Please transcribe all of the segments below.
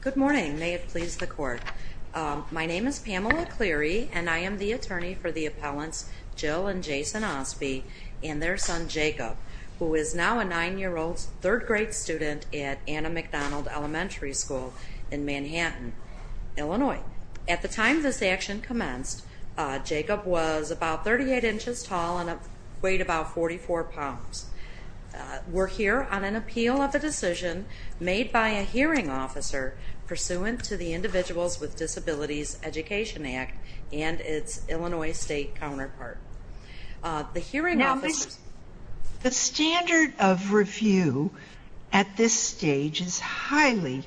Good morning, may it please the court. My name is Pamela Cleary and I am the attorney for the appellants Jill and Jason Ostby and their son Jacob, who is now a nine-year-old third grade student at Anna McDonald Elementary School in Manhattan, Illinois. At the time this action commenced, Jacob was about 38 inches tall and weighed about 44 pounds. We're here on an appeal of the decision made by a hearing officer pursuant to the Individuals with Disabilities Education Act and its Illinois state counterpart. The hearing office... Now, the standard of review at this stage is highly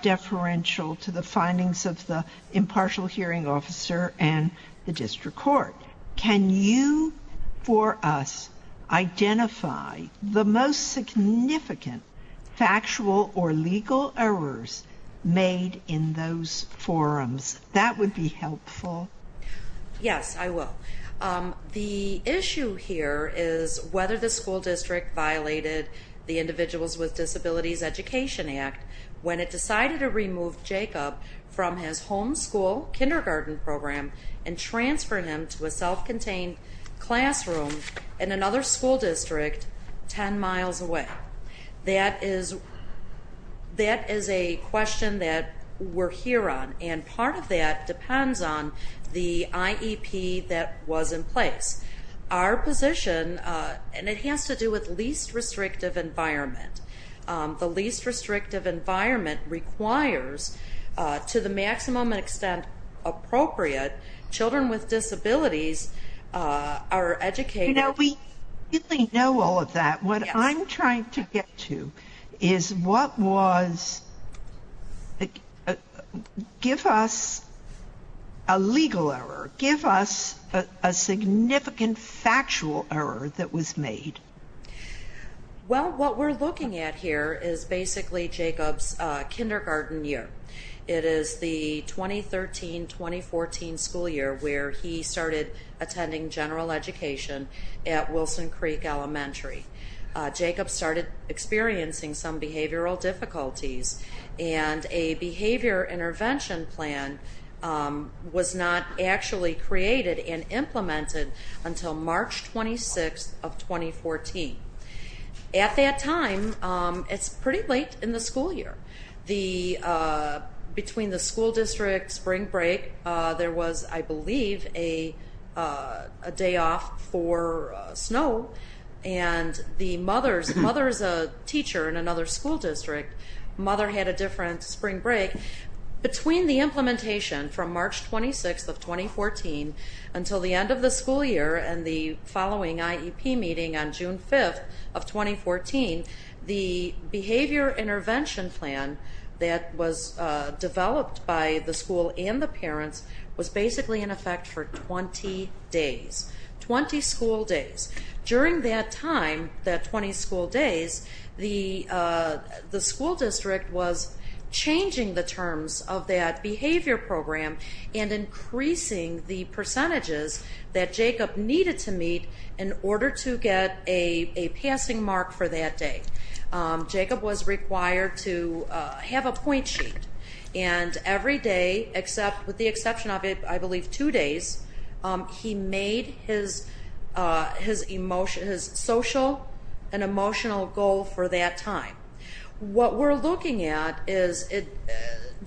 deferential to the findings of the impartial hearing officer and the district court. Can you, for us, identify the most significant factual or legal errors made in those forums? That would be helpful. Yes, I will. The issue here is whether the school district violated the Individuals with Disabilities Education Act when it decided to remove Jacob from his home school kindergarten program and transfer him to a self-contained classroom in another school district ten miles away. That is a question that we're here on and part of that depends on the IEP that was in place. Our position, and it has to do with least restrictive environment, the least restrictive environment requires, to the maximum extent appropriate, children with disabilities are educated... You know, we really know all of that. What I'm trying to get to is what was... Give us a legal error. Give us a significant factual error that was made. Well, what we're looking at here is basically Jacob's kindergarten year. It is the 2013-2014 school year where he started attending general education at Wilson Creek Elementary. Jacob started experiencing some behavioral difficulties and a behavior intervention plan was not actually created and implemented until March 26th of 2014. At that time, it's pretty late in the school year. Between the school district spring break, there was, I believe, a day off for snow and the mother's... Mother is a teacher in another school district. Mother had a different spring break. Between the implementation from March 26th of 2014 until the end of the school year and the following IEP meeting on the intervention plan that was developed by the school and the parents was basically in effect for 20 days, 20 school days. During that time, that 20 school days, the school district was changing the terms of that behavior program and increasing the percentages that Jacob needed to meet in order to get a passing mark for that day. Jacob was required to have a point sheet and every day, with the exception of, I believe, two days, he made his social and emotional goal for that time. What we're looking at is the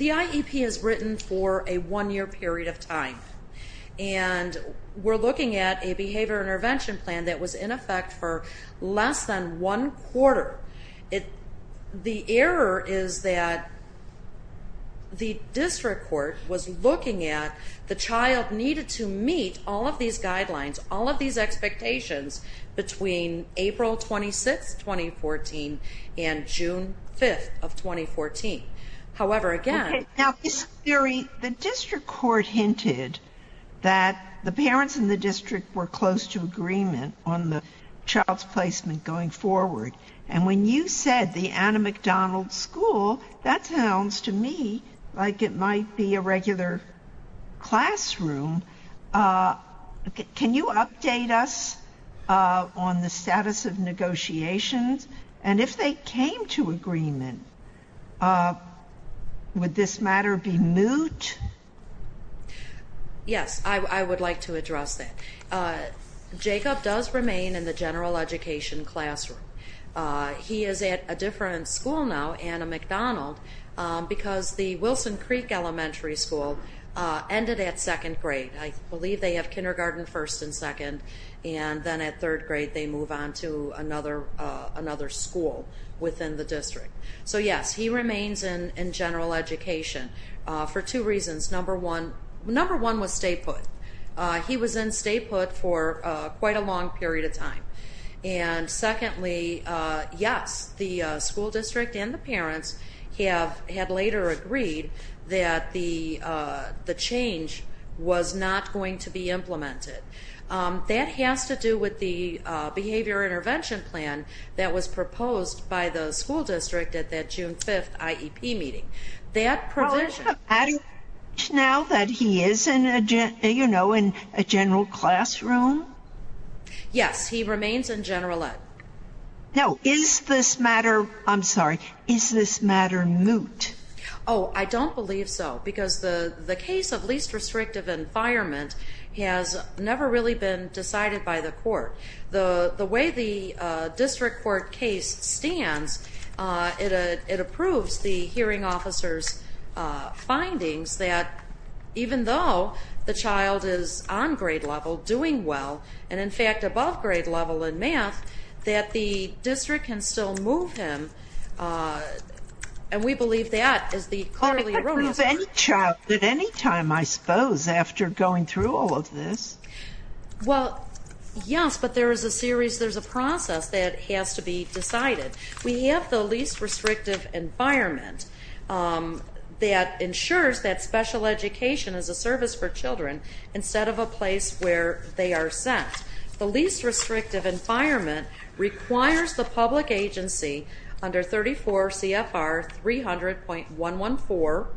IEP is written for a one-year period of time and we're looking at a behavior intervention plan that was in effect for less than one quarter. The error is that the district court was looking at the child needed to meet all of these guidelines, all of these expectations between April 26th, 2014 and June 5th of 2014. However, again... Now, Ms. Currie, the district court hinted that the parents in the agreement on the child's placement going forward and when you said the Anna McDonald school, that sounds to me like it might be a regular classroom. Can you update us on the status of negotiations and if they came to agreement, would this Jacob does remain in the general education classroom. He is at a different school now, Anna McDonald, because the Wilson Creek Elementary School ended at second grade. I believe they have kindergarten first and second and then at third grade they move on to another school within the district. So, yes, he remains in general education for two reasons. Number one was statehood. He was in statehood for quite a long period of time. And secondly, yes, the school district and the parents had later agreed that the change was not going to be implemented. That has to do with the behavior intervention plan that was proposed by the school district at that June 5th IEP meeting. That provision... Is it a matter now that he is in a general classroom? Yes, he remains in general education. Now, is this matter, I'm sorry, is this matter moot? Oh, I don't believe so because the the case of least restrictive environment has never really been decided by the court. The way the district court case stands, it approves the hearing officer's findings that even though the child is on grade level, doing well, and in fact above grade level in math, that the district can still move him. And we believe that is the clearly erroneous... I can't move any child at any time, I suppose, after going through all of this. Well, yes, but there is a series, there's a process that has to be decided. We have the least restrictive environment that ensures that special education is a service for children instead of a place where they are sent. The least restrictive environment requires the public agency under 34 CFR 300.114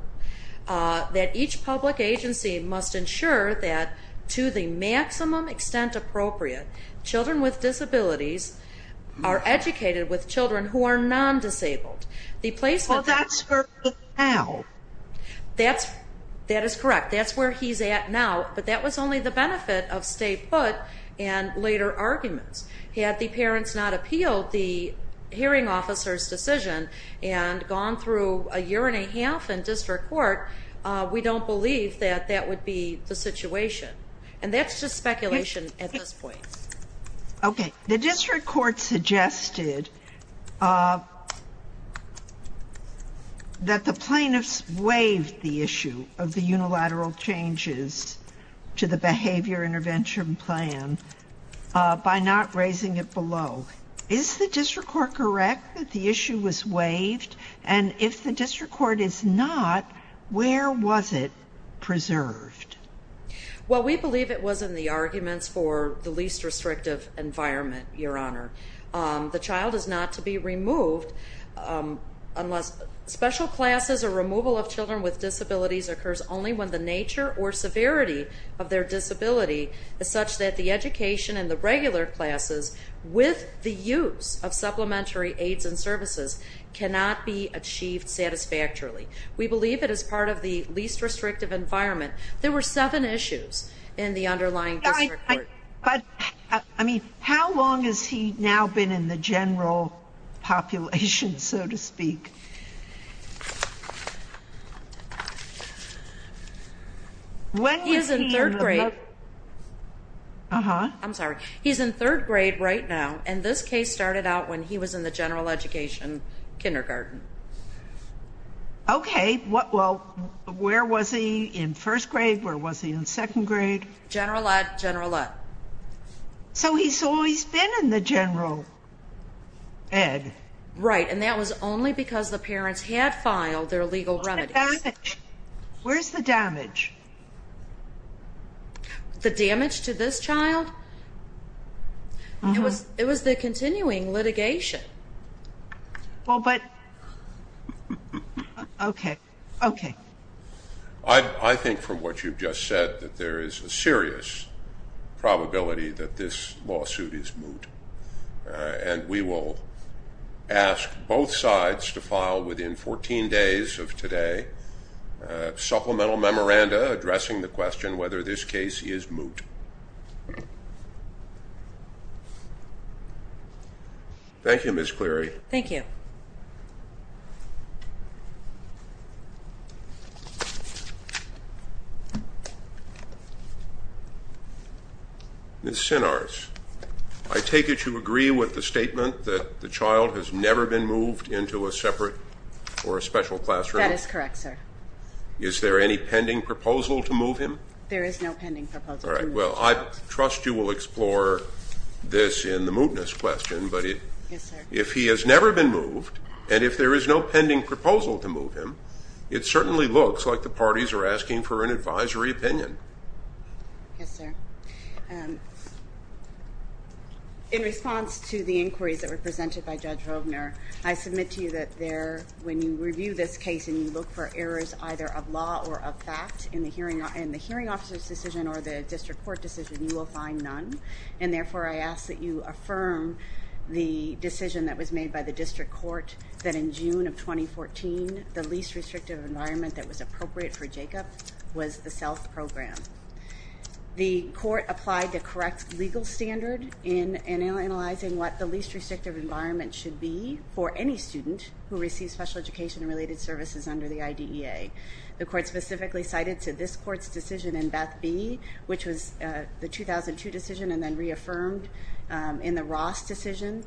that each public agency must ensure that to the maximum extent appropriate, children with disabilities are educated with children who are non-disabled. Well, that's where he's at now. That is correct, that's where he's at now, but that was only the benefit of stay put and later arguments. Had the parents not appealed the hearing officer's decision and gone through a year and a half in district court, we don't believe that that would be the situation. And that's just speculation at this point. Okay, the district court suggested that the plaintiffs waived the issue of the unilateral changes to the behavior intervention plan by not raising it below. Is the district court correct that the issue was waived? And if the district court is not, where was it preserved? Well, we believe it was in the arguments for the least restrictive environment, Your Honor. The child is not to be removed unless special classes or removal of children with disabilities occurs only when the nature or severity of their disability is such that the education and the regular classes with the use of supplementary aids and services cannot be achieved satisfactorily. We believe it is part of the least restrictive environment. There were seven issues in the underlying district court. But I mean, how long has he now been in the general population, so to speak? When he is in third grade. Uh huh. I'm sorry. He's in third grade right now. And this case started out when he was in the general education kindergarten. Okay. Well, where was he in first grade? Where was he in second grade? General ed. General ed. So he's always been in the general ed. Right. And that was only because the parents had filed their legal remedies. What about the damage? Where's the damage? The damage to this child? It was the continuing litigation. Well, but... Okay. Okay. I think from what you've just said that there is a serious probability that this lawsuit is moot. And we will ask both sides to file within 14 days of today a supplemental memoranda addressing the question whether this case is moot. Thank you, Ms. Cleary. Thank you. Ms. Sinars, I take it you agree with the statement that the child has never been moved into a separate or a special classroom? That is correct, sir. Is there any pending proposal to move him? All right. Well, we'll take that as a yes. Well, I trust you will explore this in the mootness question, but if he has never been moved and if there is no pending proposal to move him, it certainly looks like the parties are asking for an advisory opinion. Yes, sir. In response to the inquiries that were presented by Judge Hovner, I submit to you that when you review this case and you look for errors either of law or of fact in the hearing officer's decision or the district court decision, you will find none. And therefore, I ask that you affirm the decision that was made by the district court that in June of 2014, the least restrictive environment that was appropriate for Jacob was the SELF program. The court applied the correct legal standard in analyzing what the least restrictive environment should be for any student who receives special education-related services under the IDEA. The court specifically cited to this court's decision in Beth B., which was the 2002 decision and then reaffirmed in the Ross decision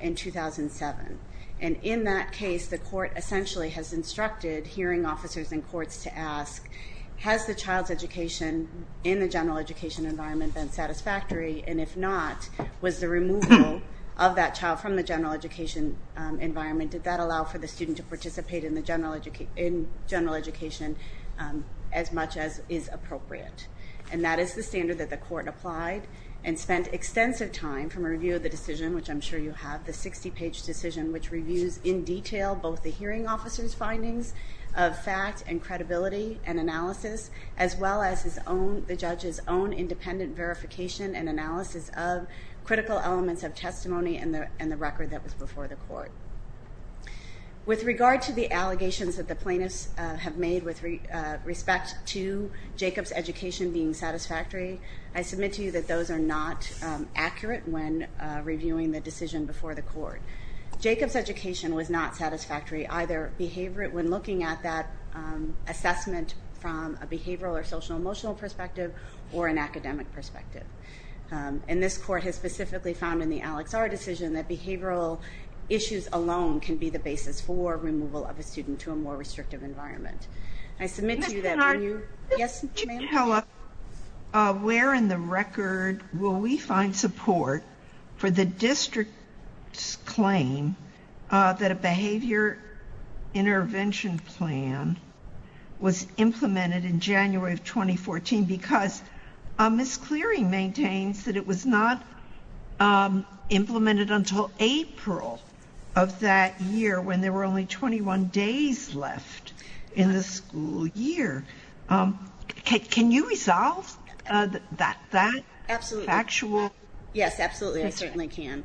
in 2007. And in that case, the court essentially has instructed hearing officers and courts to ask, has the child's education in the general education environment been satisfactory, and if not, was the removal of that child from the general education environment, did that allow for the student to participate in general education as much as is appropriate. And that is the standard that the court applied and spent extensive time from a review of the decision, which I'm sure you have, the 60-page decision, which reviews in detail both the hearing officer's findings of fact and credibility and analysis, as well as the judge's own independent verification and the record that was before the court. With regard to the allegations that the plaintiffs have made with respect to Jacob's education being satisfactory, I submit to you that those are not accurate when reviewing the decision before the court. Jacob's education was not satisfactory either behaviorally when looking at that assessment from a behavioral or social-emotional perspective or an academic perspective. And this court has specifically found in the Alex R. decision that behavioral issues alone can be the basis for removal of a student to a more restrictive environment. I submit to you that when you... Where in the record will we find support for the district's claim that a behavior intervention plan was implemented in January of 2014 because Ms. Cleary maintains that it was not implemented until April of that year when there were only 21 days left in the school year? Can you resolve that factual... Absolutely. Yes, absolutely, I certainly can.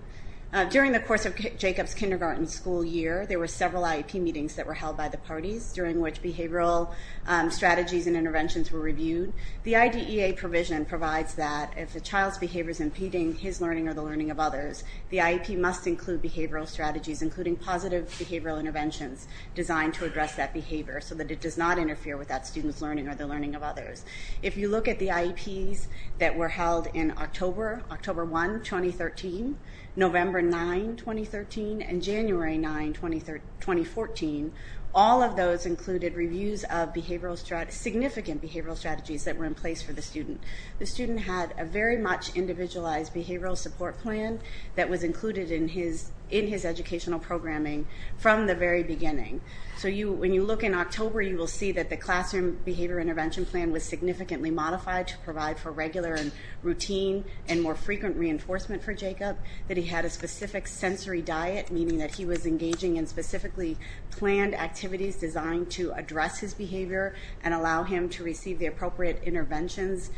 During the course of Jacob's kindergarten school year, there were several IEP meetings that were held by the parties during which behavioral strategies and interventions were reviewed. The IDEA provision provides that if a child's behavior is impeding his learning or the learning of others, the IEP must include behavioral strategies including positive behavioral interventions designed to address that behavior so that it does not interfere with that student's learning or the learning of others. If you look at the IEPs that were held in October 1, 2013, November 9, 2013, and January 9, 2014, all of those included reviews of significant behavioral strategies that were in place for the student. The student had a very much individualized behavioral support plan that was included in his educational programming from the very beginning. So when you look in October, you will see that the classroom behavior intervention plan was significantly modified to provide for regular and routine and more frequent reinforcement for Jacob, that he had a specific sensory diet, meaning that he was engaging in specifically planned activities designed to address his behavior and allow him to receive the appropriate interventions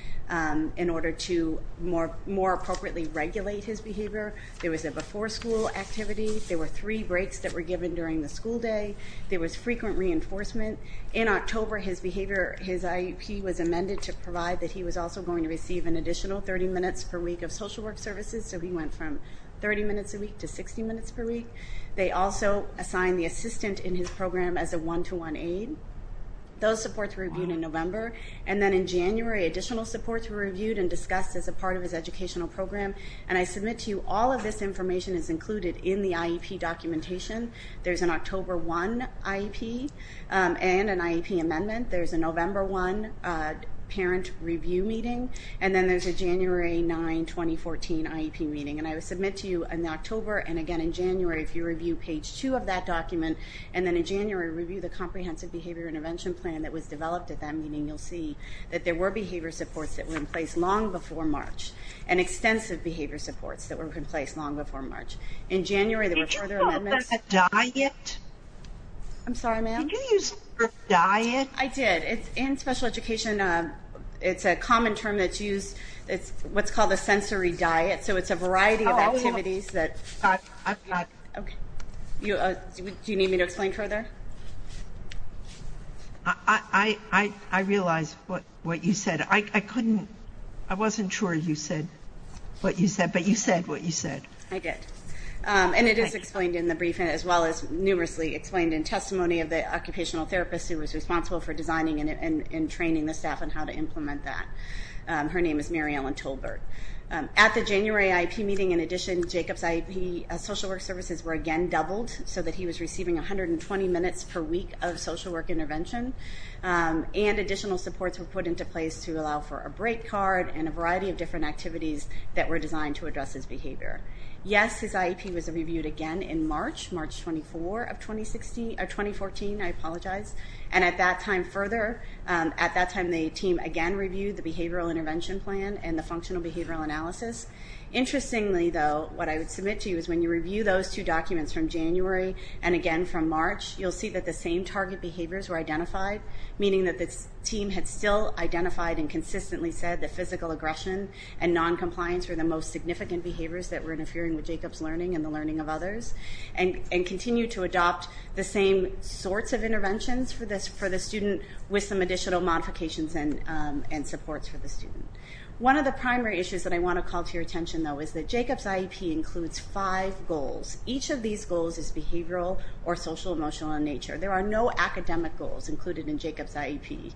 in order to more appropriately regulate his behavior. There was a before school activity. There were three breaks that were given during the school day. There was frequent reinforcement. In October, his IEP was amended to provide that he was also going to receive an additional 30 minutes per week of social work services, so he went from 30 minutes a week to 60 minutes per week. They also assigned the assistant in his program as a one-to-one aide. Those supports were reviewed in November. And then in January, additional supports were reviewed and discussed as a part of his educational program. And I submit to you all of this information is included in the IEP documentation. There's an October 1 IEP and an IEP amendment. There's a November 1 parent review meeting. And then there's a January 9, 2014 IEP meeting. And I submit to you in October and again in January if you review page 2 of that document and then in January review the comprehensive behavior intervention plan that was developed at that meeting, you'll see that there were behavior supports that were in place long before March and extensive behavior supports that were in place long before March. In January, there were further amendments. I'm sorry, ma'am? I did. In special education, it's a common term that's used. It's what's called a sensory diet, so it's a variety of activities. Do you need me to explain further? I realize what you said. I wasn't sure you said what you said, but you said what you said. I did, and it is explained in the briefing as well as numerously explained in testimony of the occupational therapist who was responsible for designing and training the staff on how to implement that. Her name is Mary Ellen Tolbert. At the January IEP meeting, in addition, Jacob's IEP social work services were again doubled so that he was receiving 120 minutes per week of social work intervention, and additional supports were put into place to allow for a break card and a variety of different activities that were designed to address his behavior. Yes, his IEP was reviewed again in March, March 24, 2014. At that time, the team again reviewed the behavioral intervention plan and the functional behavioral analysis. Interestingly, though, what I would submit to you is when you review those two documents from January and again from March, you'll see that the same target behaviors were identified, meaning that the team had still identified and consistently said that physical aggression and noncompliance were the most significant behaviors that were interfering with Jacob's learning and the learning of others, and continued to adopt the same sorts of interventions for the student with some additional modifications and supports for the student. One of the primary issues that I want to call to your attention, though, is that Jacob's IEP includes five goals. Each of these goals is behavioral or social-emotional in nature. There are no academic goals included in Jacob's IEP.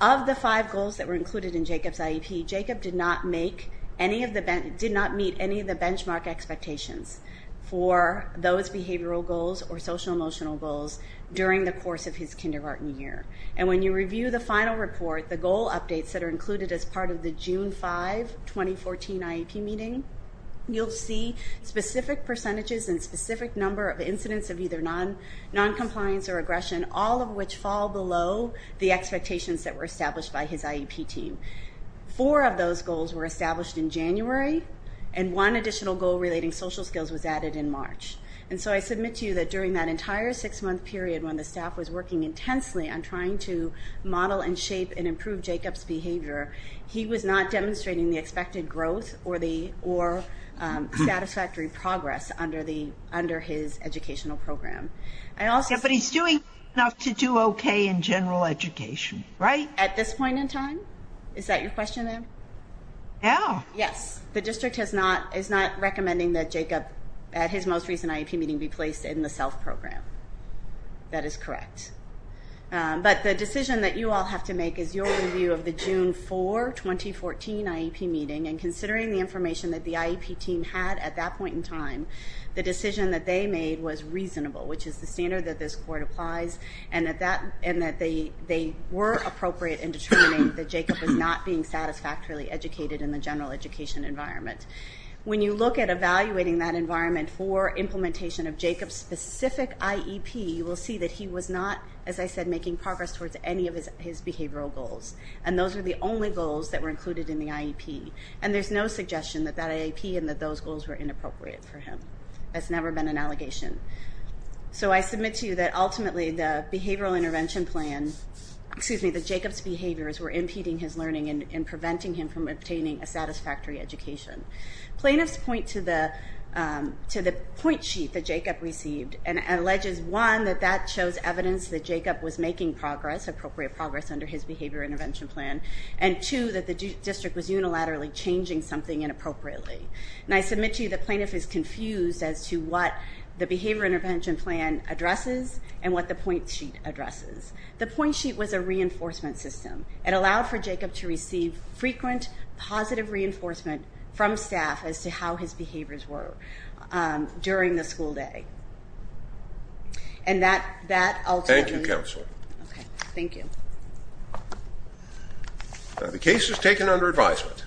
Of the five goals that were included in Jacob's IEP, Jacob did not meet any of the benchmark expectations for those behavioral goals or social-emotional goals during the course of his kindergarten year. And when you review the final report, the goal updates that are included as part of the June 5, 2014 IEP meeting, you'll see specific percentages and specific number of incidents of either noncompliance or aggression, all of which fall below the expectations that were established by his IEP team. Four of those goals were established in January, and one additional goal relating social skills was added in March. And so I submit to you that during that entire six-month period when the staff was working intensely on trying to model and shape and improve Jacob's behavior, he was not demonstrating the expected growth or satisfactory progress under his educational program. But he's doing enough to do okay in general education, right? At this point in time? Is that your question, then? Yes. The district is not recommending that Jacob, at his most recent IEP meeting, be placed in the SELF program. That is correct. But the decision that you all have to make is your review of the June 4, 2014 IEP meeting, and considering the information that the IEP team had at that point in time, the decision that they made was reasonable, which is the standard that this court applies, and that they were appropriate in determining that Jacob was not being satisfactorily educated in the general education environment. When you look at evaluating that environment for implementation of Jacob's specific IEP, you will see that he was not, as I said, making progress towards any of his behavioral goals. And those were the only goals that were included in the IEP. And there's no suggestion that that IEP and that those goals were inappropriate for him. That's never been an allegation. So I submit to you that ultimately, the behavioral intervention plan, excuse me, that Jacob's behaviors were impeding his learning and preventing him from obtaining a satisfactory education. Plaintiffs point to the point sheet that Jacob received and alleges, one, that that shows evidence that Jacob was making progress, appropriate progress, under his behavior intervention plan, and two, that the district was unilaterally changing something inappropriately. And I submit to you the plaintiff is confused as to what the behavior intervention plan addresses and what the point sheet addresses. The point sheet was a reinforcement system. It allowed for Jacob to receive frequent, positive reinforcement from staff as to how his behaviors were during the school day. And that ultimately... Thank you, Counselor. Okay. Thank you. The case is taken under advisement.